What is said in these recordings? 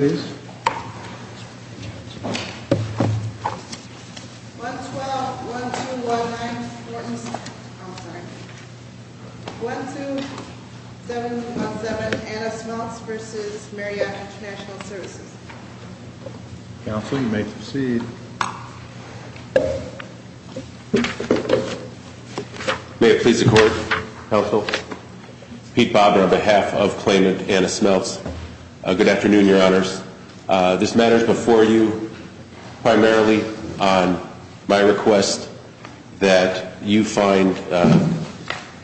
1-2-7-0-7 Anna Smeltz v. Marriott International Services Council, you may proceed May it please the Court, Counsel Pete Bobber, on behalf of Claimant Anna Smeltz, good afternoon, Your Honors. This matter is before you primarily on my request that you find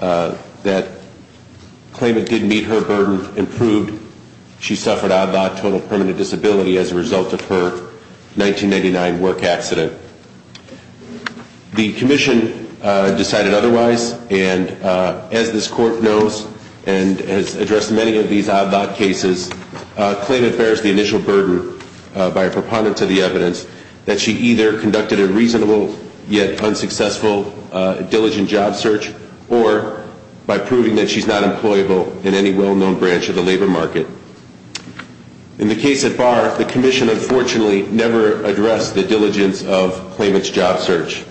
that Claimant did meet her burden and proved she suffered odd-lot total permanent disability as a result of her 1989 work accident. The Commission decided otherwise, and as this Court knows and has addressed many of these odd-lot cases, Claimant bears the initial burden by a preponderance of the evidence that she either conducted a reasonable yet unsuccessful diligent job search or by proving that she is not employable in any well-known branch of the labor market. In the case at Barr, the Commission, unfortunately, never addressed the diligence of Claimant's job search.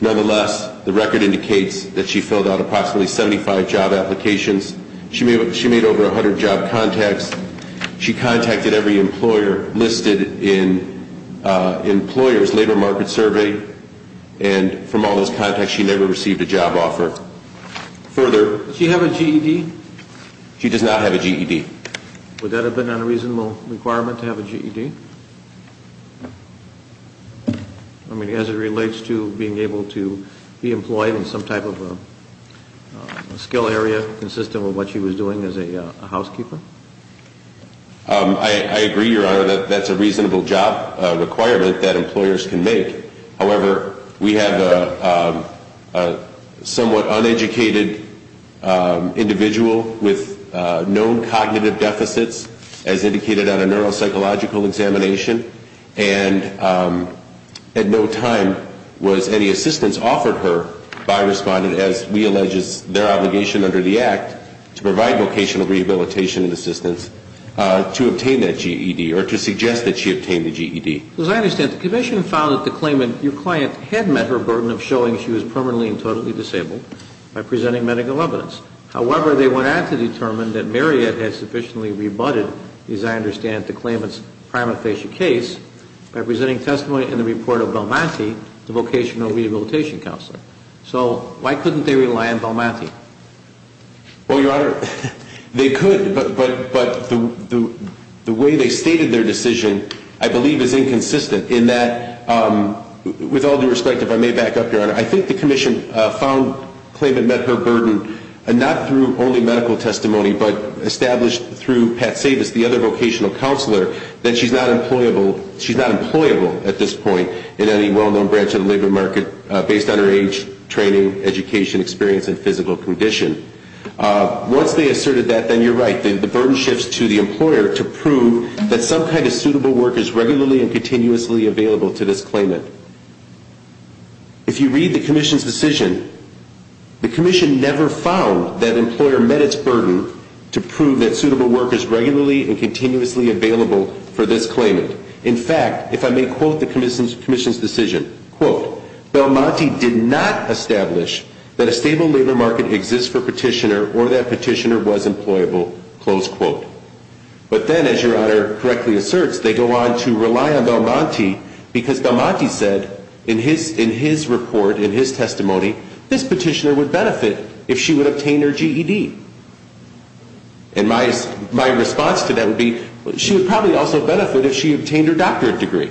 Nonetheless, the record indicates that she filled out approximately 75 job applications, she made over 100 job contacts, she contacted every employer listed in employers labor market survey, and from all those contacts she never received a job offer. Does she have a GED? She does not have a GED. Would that have been a reasonable requirement to have a GED? I mean, as it relates to being able to be employed in some type of a skill area consistent with what she was doing as a housekeeper? I agree, Your Honor, that that's a reasonable job requirement that employers can make. However, we have a somewhat uneducated individual with known cognitive deficits, as indicated on a neuropsychological examination, and at no time was any assistance offered her by Respondent, as we allege is their obligation under the Act, to provide vocational rehabilitation and assistance to obtain that GED or to suggest that she obtain the GED. As I understand, the Commission found that the Claimant, your client, had met her burden of showing she was permanently and totally disabled by presenting medical evidence. However, they went on to determine that Marriott had sufficiently rebutted, as I understand, the Claimant's prima facie case by presenting testimony in the report of Balmanti, the vocational rehabilitation counselor. So why couldn't they rely on Balmanti? Well, Your Honor, they could, but the way they stated their decision, I believe, is inconsistent in that, with all due respect, if I may back up, Your Honor, I think the Commission found the Claimant met her burden not through only medical testimony, but established through Pat Savis, the other vocational counselor, that she's not employable at this point in any well-known branch of the labor market based on her age, training, education, experience, and physical condition. Once they asserted that, then you're right. The burden shifts to the employer to prove that some kind of suitable work is regularly and continuously available to this Claimant. If you read the Commission's decision, the Commission never found that the employer met its burden to prove that suitable work is regularly and continuously available for this Claimant. In fact, if I may quote the Commission's decision, quote, Balmanti did not establish that a stable labor market exists for Petitioner or that Petitioner was employable, close quote. But then, as Your Honor correctly asserts, they go on to rely on Balmanti because Balmanti said in his report, in his testimony, this Petitioner would benefit if she would obtain her GED. And my response to that would be, she would probably also benefit if she obtained her doctorate degree.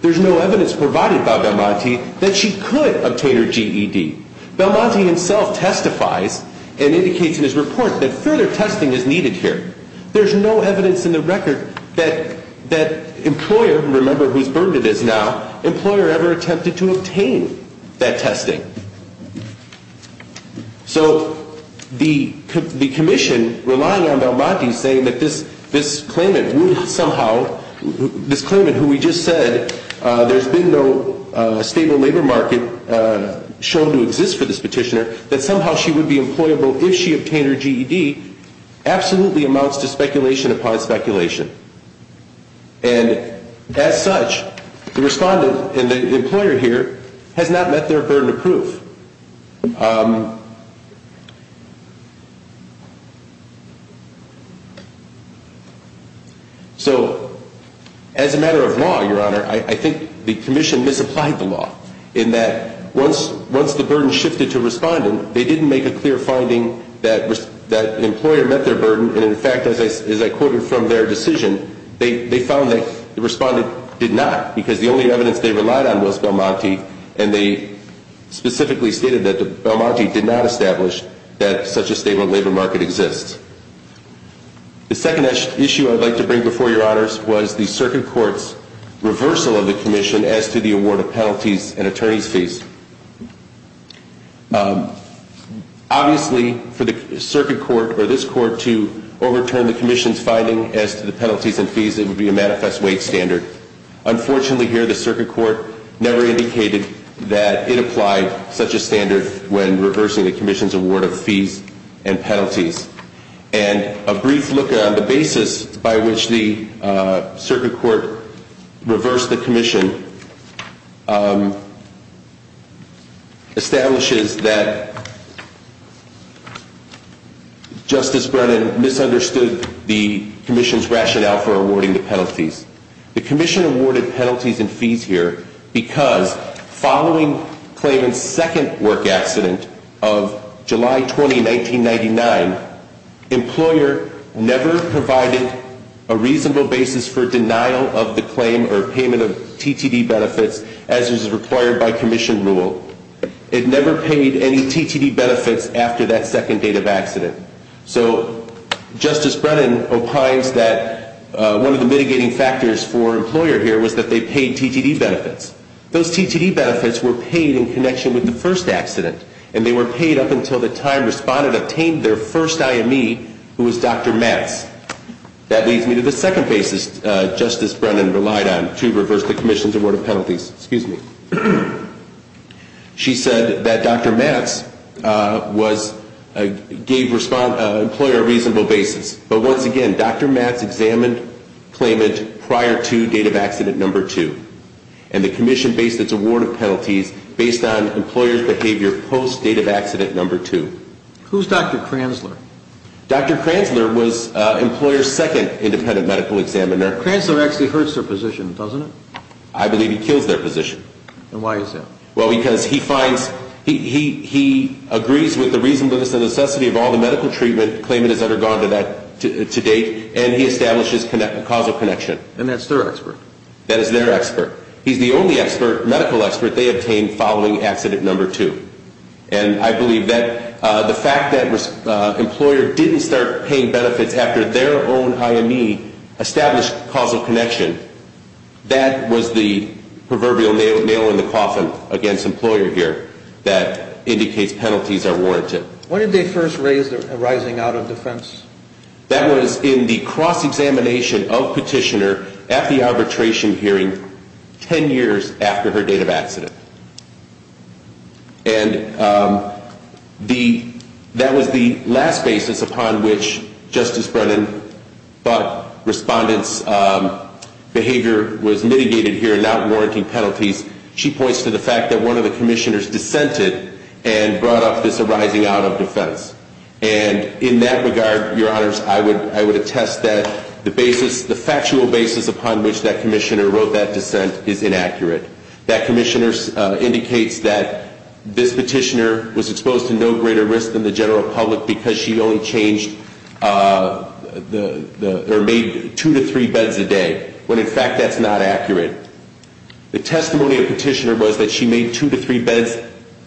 There's no evidence provided by Balmanti that she could obtain her GED. Balmanti himself testifies and indicates in his report that further testing is needed here. There's no evidence in the record that employer, remember whose burden it is now, employer ever attempted to obtain that testing. So the Commission, relying on Balmanti, saying that this Claimant would somehow, this Claimant who we just said there's been no stable labor market shown to exist for this Petitioner, that somehow she would be employable if she obtained her GED, absolutely amounts to speculation upon speculation. And as such, the Respondent and the employer here has not met their burden of proof. So as a matter of law, Your Honor, I think the Commission misapplied the law in that once the burden shifted to Respondent, they didn't make a clear finding that the employer met their burden, and in fact, as I quoted from their decision, they found that the Respondent did not because the only evidence they relied on was Balmanti, and they specifically stated that Balmanti did not establish that such a stable labor market exists. The second issue I'd like to bring before Your Honors was the Circuit Court's reversal of the Commission as to the award of penalties and attorney's fees. Obviously, for the Circuit Court or this Court to overturn the Commission's finding as to the penalties and fees, it would be a manifest wage standard. Unfortunately here, the Circuit Court never indicated that it applied such a standard when reversing the Commission's award of fees and penalties. And a brief look at the basis by which the Circuit Court reversed the Commission establishes that Justice Brennan misunderstood the Commission's rationale for awarding the penalties. The Commission awarded penalties and fees here because following Clayman's second work accident of July 20, 1999, employer never provided a reasonable basis for denial of the claim or payment of TTD benefits as is required by Commission rule. It never paid any TTD benefits after that second date of accident. So Justice Brennan opines that one of the mitigating factors for employer here was that they paid TTD benefits. Those TTD benefits were paid in connection with the first accident, and they were paid up until the time respondent obtained their first IME, who was Dr. Matz. That leads me to the second basis Justice Brennan relied on to reverse the Commission's award of penalties. She said that Dr. Matz gave employer a reasonable basis. But once again, Dr. Matz examined Clayman prior to date of accident number two, and the Commission based its award of penalties based on employer's behavior post date of accident number two. Who's Dr. Kranzler? Dr. Kranzler was employer's second independent medical examiner. Kranzler actually hurts their position, doesn't he? I believe he kills their position. And why is that? Well, because he agrees with the reasonableness and necessity of all the medical treatment Clayman has undergone to date, and he establishes causal connection. And that's their expert? That is their expert. He's the only medical expert they obtained following accident number two. And I believe that the fact that employer didn't start paying benefits after their own IME established causal connection, that was the proverbial nail in the coffin against employer here that indicates penalties are warranted. When did they first raise the rising out of defense? That was in the cross examination of petitioner at the arbitration hearing ten years after her date of accident. And that was the last basis upon which Justice Brennan thought respondents' behavior was mitigated here, not warranting penalties. She points to the fact that one of the commissioners dissented and brought up this arising out of defense. And in that regard, your honors, I would attest that the factual basis upon which that commissioner wrote that dissent is inaccurate. That commissioner indicates that this petitioner was exposed to no greater risk than the general public because she only changed or made two to three beds a day, when in fact that's not accurate. The testimony of petitioner was that she made two to three beds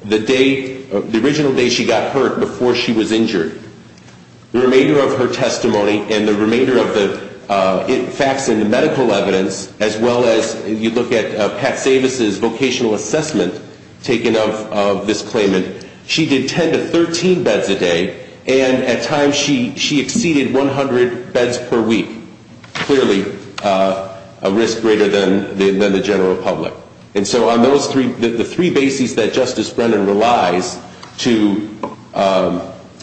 the day, the original day she got hurt before she was injured. The remainder of her testimony and the remainder of the facts in the medical evidence, as well as you look at Pat Savis' vocational assessment taken of this claimant, she did 10 to 13 beds a day, and at times she exceeded 100 beds per week, clearly a risk greater than the general public. And so on those three, the three bases that Justice Brennan relies to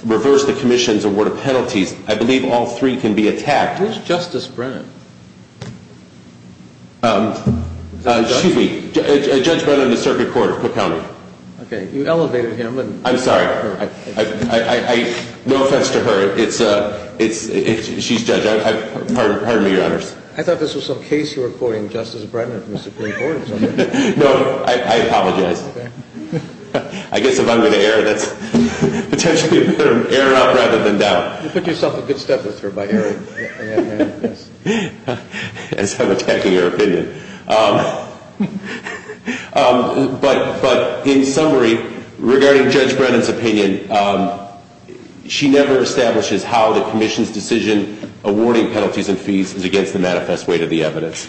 reverse the commission's award of penalties, I believe all three can be attacked. Who's Justice Brennan? Excuse me. Judge Brennan of the Circuit Court of Cook County. Okay. You elevated him. I'm sorry. No offense to her. She's judge. Pardon me, your honors. I thought this was some case you were quoting Justice Brennan from the Supreme Court or something. No, I apologize. Okay. I guess if I'm going to err, that's potentially a better error up rather than down. You put yourself a good step with her by erring, yes. As I'm attacking her opinion. But in summary, regarding Judge Brennan's opinion, she never establishes how the commission's decision awarding penalties and fees is against the manifest way to the evidence.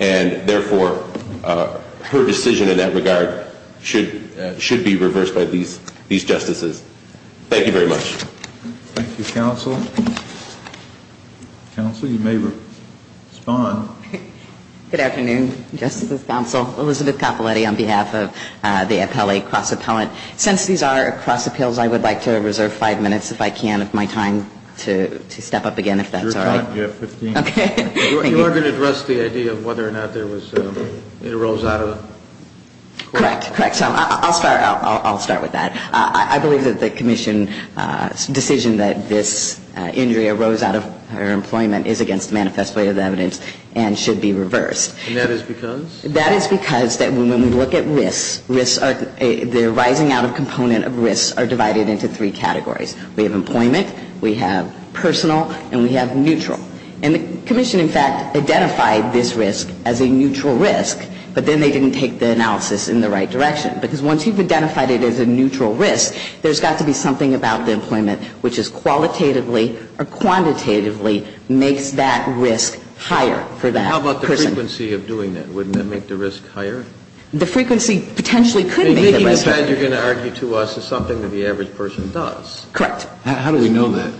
And, therefore, her decision in that regard should be reversed by these justices. Thank you very much. Thank you, counsel. Counsel, you may respond. Good afternoon, justices, counsel. Elizabeth Coppoletti on behalf of the appellate cross appellant. Since these are cross appeals, I would like to reserve five minutes if I can of my time to step up again if that's all right. You have 15 minutes. Okay. You are going to address the idea of whether or not there was, it arose out of. Correct. Correct. I'll start with that. I believe that the commission's decision that this injury arose out of her employment is against the manifest way to the evidence and should be reversed. And that is because? That is because that when we look at risks, risks are, the rising out of component of risks are divided into three categories. We have employment. We have personal. And we have neutral. And the commission, in fact, identified this risk as a neutral risk. But then they didn't take the analysis in the right direction. Because once you've identified it as a neutral risk, there's got to be something about the employment which is qualitatively or quantitatively makes that risk higher for that person. How about the frequency of doing that? Wouldn't that make the risk higher? The frequency potentially could make the risk higher. Making a bed, you're going to argue to us, is something that the average person does. Correct. How do we know that?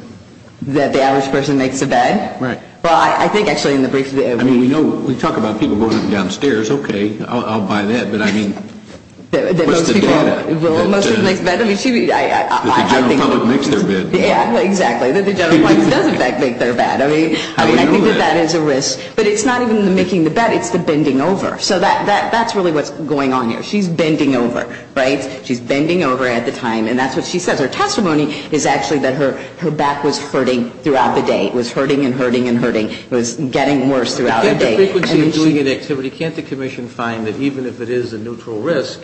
That the average person makes a bed? Right. Well, I think, actually, in the brief, we know, we talk about people going downstairs. Okay. I'll buy that. But, I mean, what's the data? Well, most people make beds. I mean, she would, I think. That the general public makes their bed. Yeah, exactly. That the general public does, in fact, make their bed. I mean, I think that that is a risk. How do we know that? But it's not even the making the bed. It's the bending over. So that's really what's going on here. She's bending over. Right? She's bending over at the time. And that's what she says. Her testimony is actually that her back was hurting throughout the day. It was hurting and hurting and hurting. It was getting worse throughout the day. Can't the commission find that even if it is a neutral risk,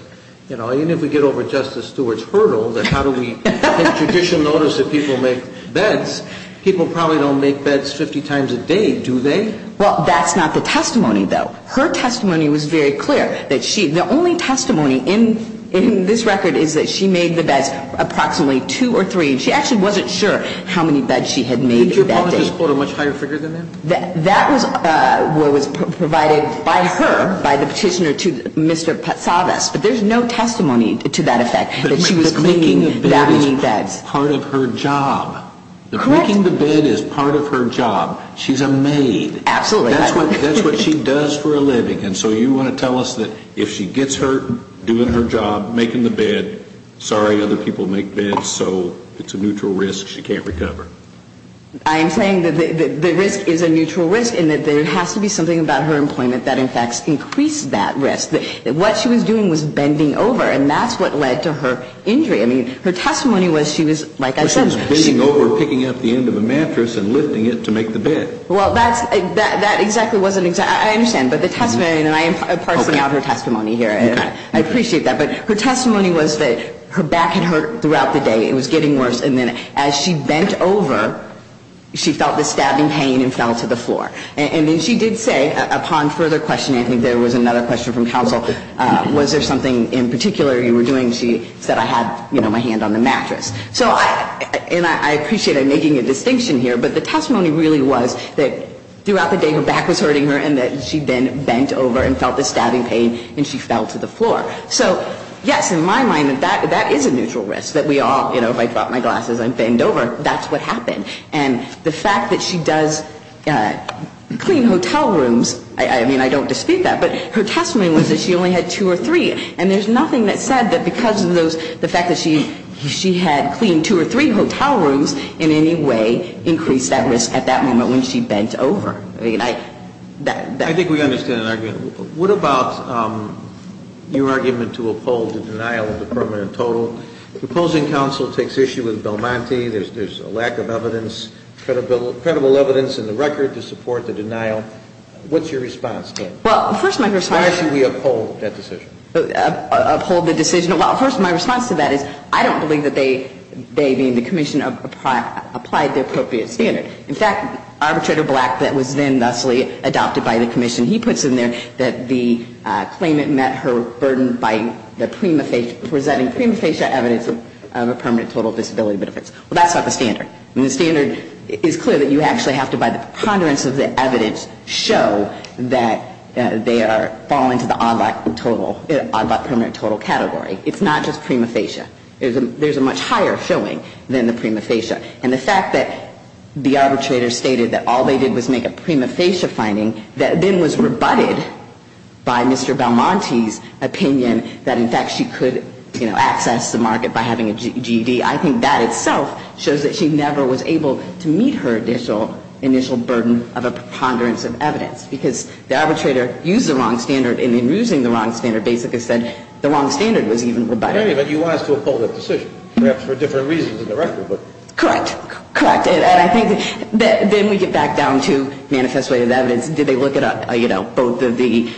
you know, even if we get over Justice Stewart's hurdle, that how do we take judicial notice that people make beds, people probably don't make beds 50 times a day, do they? Well, that's not the testimony, though. Her testimony was very clear. The only testimony in this record is that she made the beds approximately two or three. She actually wasn't sure how many beds she had made in that day. Did your apologies quote a much higher figure than that? That was what was provided by her, by the petitioner to Mr. Patsavas. But there's no testimony to that effect, that she was making that many beds. But making the bed is part of her job. Correct. Making the bed is part of her job. She's a maid. Absolutely. That's what she does for a living. And so you want to tell us that if she gets hurt doing her job, making the bed, sorry, other people make beds, so it's a neutral risk, she can't recover. I am saying that the risk is a neutral risk and that there has to be something about her employment that, in fact, increased that risk. What she was doing was bending over, and that's what led to her injury. I mean, her testimony was she was, like I said, she was bending over, picking up the end of a mattress and lifting it to make the bed. Well, that's, that exactly wasn't, I understand. But the testimony, and I am parsing out her testimony here. I appreciate that. But her testimony was that her back had hurt throughout the day. It was getting worse. And then as she bent over, she felt the stabbing pain and fell to the floor. And then she did say, upon further questioning, I think there was another question from counsel, was there something in particular you were doing? She said, I had, you know, my hand on the mattress. So I, and I appreciate I'm making a distinction here, but the testimony really was that throughout the day her back was hurting her and that she then bent over and felt the stabbing pain and she fell to the floor. So, yes, in my mind, that is a neutral risk that we all, you know, if I drop my glasses and bend over, that's what happened. And the fact that she does clean hotel rooms, I mean, I don't dispute that, but her testimony was that she only had two or three. And there's nothing that said that because of those, the fact that she had cleaned two or three hotel rooms in any way increased that risk at that moment when she bent over. I mean, I, that. I think we understand the argument. What about your argument to uphold the denial of the permanent total? The opposing counsel takes issue with Belmonte. There's a lack of evidence, credible evidence in the record to support the denial. What's your response to it? Well, first my response. Why should we uphold that decision? Uphold the decision. Well, first my response to that is I don't believe that they, they being the commission, applied the appropriate standard. In fact, Arbitrator Black that was then thusly adopted by the commission, he puts in there that the claimant met her burden by the prima facie, presenting prima facie evidence of a permanent total disability benefits. Well, that's not the standard. I mean, the standard is clear that you actually have to, by the preponderance of the evidence, show that they are, fall into the odd lot total, odd lot permanent total category. It's not just prima facie. There's a much higher showing than the prima facie. And the fact that the arbitrator stated that all they did was make a prima facie finding that then was rebutted by Mr. Belmonte's opinion that in fact she could, you know, access the market by having a GED, I think that itself shows that she never was able to meet her initial, initial burden of a preponderance of evidence because the arbitrator used the wrong standard and in using the wrong standard basically said the wrong standard was even rebutted. But you want us to uphold that decision, perhaps for different reasons in the record. Correct. Correct. And I think that then we get back down to manifest way of evidence. Did they look at, you know, both of the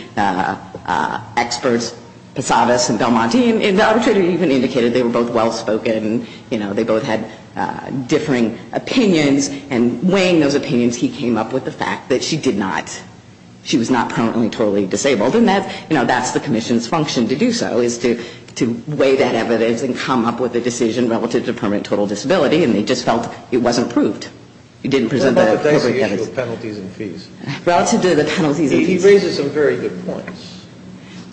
experts, Posadas and Belmonte, and the arbitrator even indicated they were both well-spoken and, you know, they both had differing opinions and weighing those opinions, he came up with the fact that she did not, she was not permanently totally disabled. And that's, you know, that's the commission's function to do so, is to weigh that evidence and come up with a decision relative to permanent total disability and they just felt it wasn't proved. It didn't present the appropriate evidence. Relative to the issue of penalties and fees. Relative to the penalties and fees. He raises some very good points.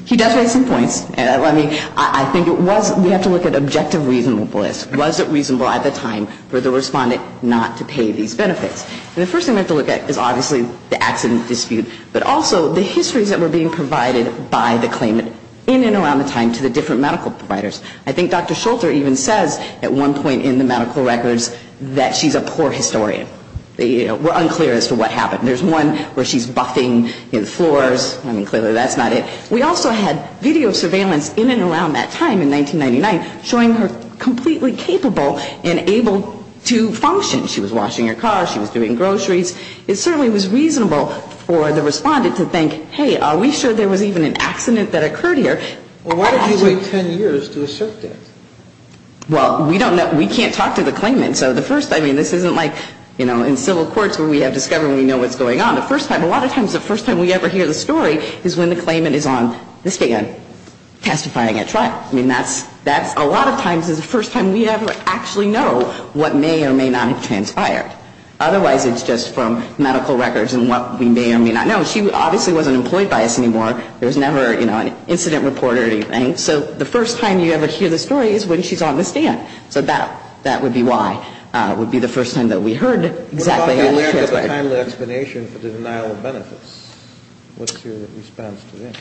He does raise some points. I mean, I think it was, we have to look at objective reasonableness. Was it reasonable at the time for the respondent not to pay these benefits? And the first thing we have to look at is obviously the accident dispute, but also the histories that were being provided by the claimant in and around the time to the different medical providers. I think Dr. Schulter even says at one point in the medical records that she's a poor historian. We're unclear as to what happened. There's one where she's buffing in floors. I mean, clearly that's not it. We also had video surveillance in and around that time in 1999, showing her completely capable and able to function. She was washing her car. She was doing groceries. It certainly was reasonable for the respondent to think, hey, are we sure there was even an accident that occurred here? Well, why did you wait 10 years to assert that? Well, we don't know. We can't talk to the claimant. So the first, I mean, this isn't like, you know, in civil courts where we have discovery and we know what's going on. The first time, a lot of times the first time we ever hear the story is when the claimant is on the stand testifying at trial. I mean, that's a lot of times the first time we ever actually know what may or may not have transpired. Otherwise, it's just from medical records and what we may or may not know. She obviously wasn't employed by us anymore. There was never, you know, an incident report or anything. So the first time you ever hear the story is when she's on the stand. So that would be why. It would be the first time that we heard exactly what transpired. What about the timely explanation for the denial of benefits? What's your response to that?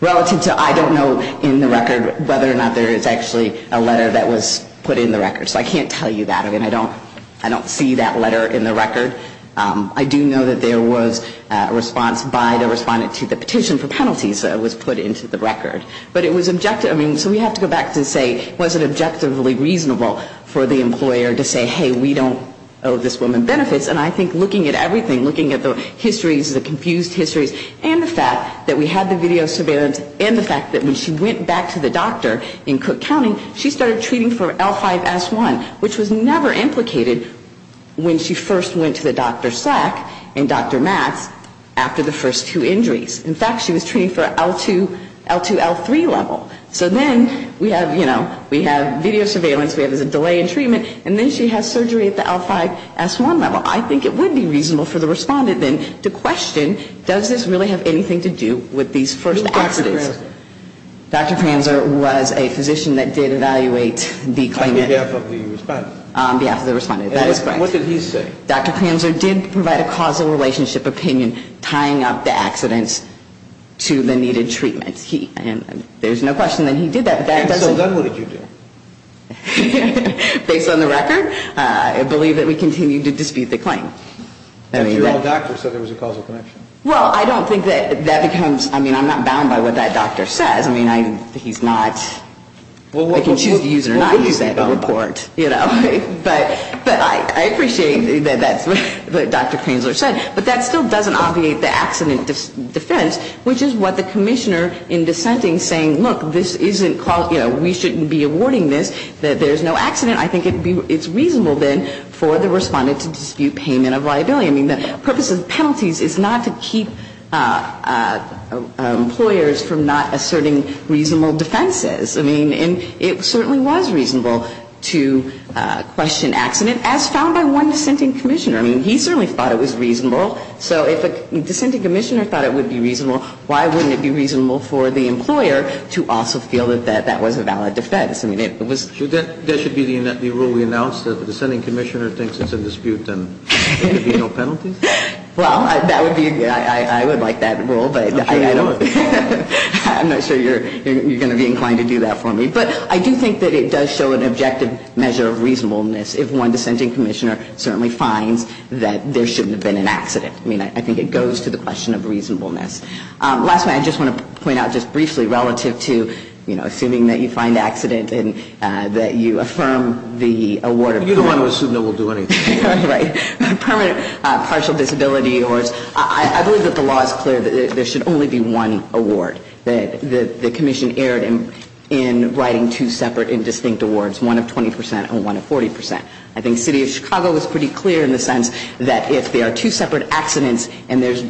Relative to I don't know in the record whether or not there is actually a letter that was put in the record. So I can't tell you that. I mean, I don't see that letter in the record. I do know that there was a response by the respondent to the petition for penalties that was put into the record. But it was objective. I mean, so we have to go back to say was it objectively reasonable for the employer to say, hey, we don't owe this woman benefits. And I think looking at everything, looking at the histories, the confused histories, and the fact that we had the video surveillance and the fact that when she went back to the doctor in Cook County, she started treating for L5S1, which was never implicated when she first went to the Dr. Slack and Dr. Matz after the first two injuries. In fact, she was treating for L2, L3 level. So then we have, you know, we have video surveillance. We have a delay in treatment. And then she has surgery at the L5S1 level. I think it would be reasonable for the respondent then to question does this really have anything to do with these first accidents. Who was Dr. Pranzer? Dr. Pranzer was a physician that did evaluate the claimant. On behalf of the respondent. On behalf of the respondent. That is correct. And what did he say? Dr. Pranzer did provide a causal relationship opinion tying up the accidents to the needed treatments. And there's no question that he did that. And so then what did you do? Based on the record, I believe that we continued to dispute the claim. But your own doctor said there was a causal connection. Well, I don't think that that becomes, I mean, I'm not bound by what that doctor says. I mean, he's not. I can choose to use it or not use that report. But I appreciate that that's what Dr. Pranzer said. But that still doesn't obviate the accident defense, which is what the commissioner in dissenting saying, look, this isn't, you know, we shouldn't be awarding this. There's no accident. I think it's reasonable then for the respondent to dispute payment of liability. I mean, the purpose of the penalties is not to keep employers from not asserting reasonable defenses. I mean, and it certainly was reasonable to question accident, as found by one dissenting commissioner. I mean, he certainly thought it was reasonable. So if a dissenting commissioner thought it would be reasonable, why wouldn't it be reasonable for the employer to also feel that that was a valid defense? I mean, it was. So that should be the rule we announced, that if a dissenting commissioner thinks it's in dispute, then there should be no penalties? Well, that would be, I would like that rule. I'm not sure you're going to be inclined to do that for me. But I do think that it does show an objective measure of reasonableness if one dissenting commissioner certainly finds that there shouldn't have been an accident. I mean, I think it goes to the question of reasonableness. Last night, I just want to point out just briefly, relative to, you know, assuming that you find accident and that you affirm the award. You don't want to assume that we'll do anything. Right. Permanent partial disability. I believe that the law is clear that there should only be one award. The commission erred in writing two separate and distinct awards, one of 20 percent and one of 40 percent. I think City of Chicago was pretty clear in the sense that if there are two separate accidents and there's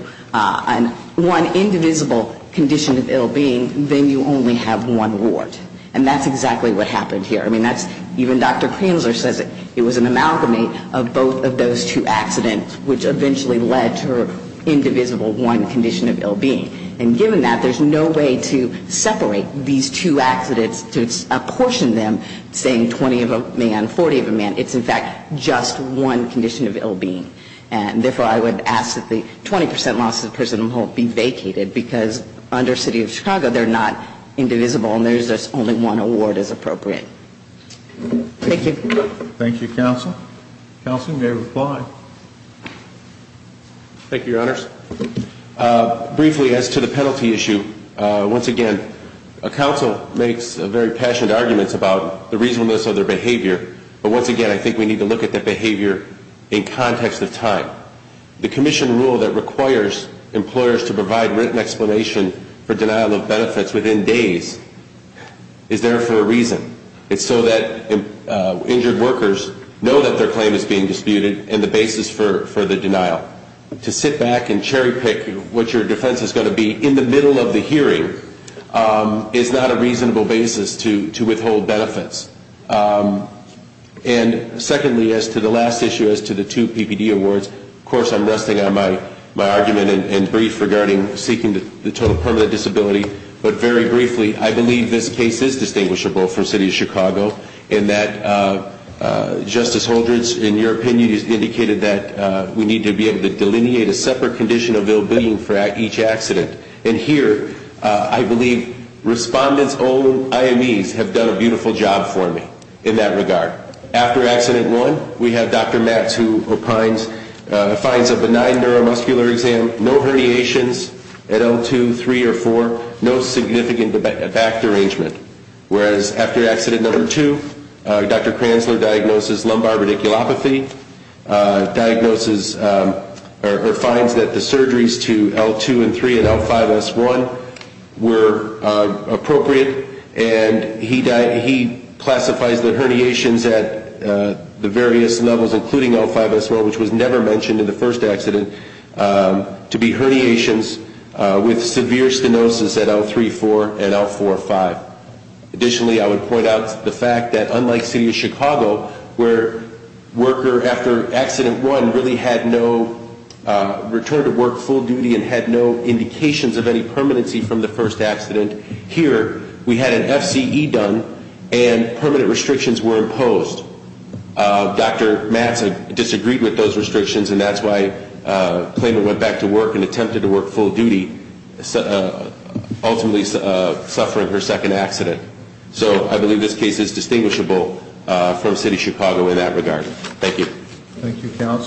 one indivisible condition of ill-being, then you only have one award. And that's exactly what happened here. I mean, that's, even Dr. Kranzler says it was an amalgamy of both of those two accidents, which eventually led to her indivisible one condition of ill-being. And given that, there's no way to separate these two accidents, to apportion them, saying 20 of a man, 40 of a man. It's, in fact, just one condition of ill-being. And therefore, I would ask that the 20 percent loss of the prison home be vacated, because under City of Chicago, they're not indivisible and there's only one award as appropriate. Thank you. Thank you, Counsel. Counsel, you may reply. Thank you, Your Honors. Briefly, as to the penalty issue, once again, a counsel makes very passionate arguments about the reasonableness of their behavior. But once again, I think we need to look at that behavior in context of time. The commission rule that requires employers to provide written explanation for denial of benefits within days is there for a reason. It's so that injured workers know that their claim is being disputed and the basis for the denial. To sit back and cherry pick what your defense is going to be in the middle of the hearing is not a reasonable basis to withhold benefits. And secondly, as to the last issue, as to the two PPD awards, of course, I'm resting on my argument in brief regarding seeking the total permanent disability. But very briefly, I believe this case is distinguishable for City of Chicago in that Justice Holdren's, in your opinion, has indicated that we need to be able to delineate a separate condition of ill-being for each accident. And here, I believe respondent's own IMEs have done a beautiful job for me in that regard. After accident one, we have Dr. Metz who finds a benign neuromuscular exam, no herniations at L2, 3, or 4, no significant back derangement. Whereas, after accident number two, Dr. Kranzler diagnoses lumbar radiculopathy, or finds that the surgeries to L2 and 3 and L4 are not significant. And so, he finds that surgeries to L5, S1 were appropriate, and he classifies the herniations at the various levels, including L5, S1, which was never mentioned in the first accident, to be herniations with severe stenosis at L3, 4, and L4, 5. Additionally, I would point out the fact that, unlike City of Chicago, where worker, after accident one, really had no return to work full duty and had no indication that they were going to be able to go back to work, there were no indications of any permanency from the first accident. Here, we had an FCE done, and permanent restrictions were imposed. Dr. Metz disagreed with those restrictions, and that's why Klayman went back to work and attempted to work full duty, ultimately suffering her second accident. So, I believe this case is distinguishable from City of Chicago in that regard. Thank you. Thank you. Thank you.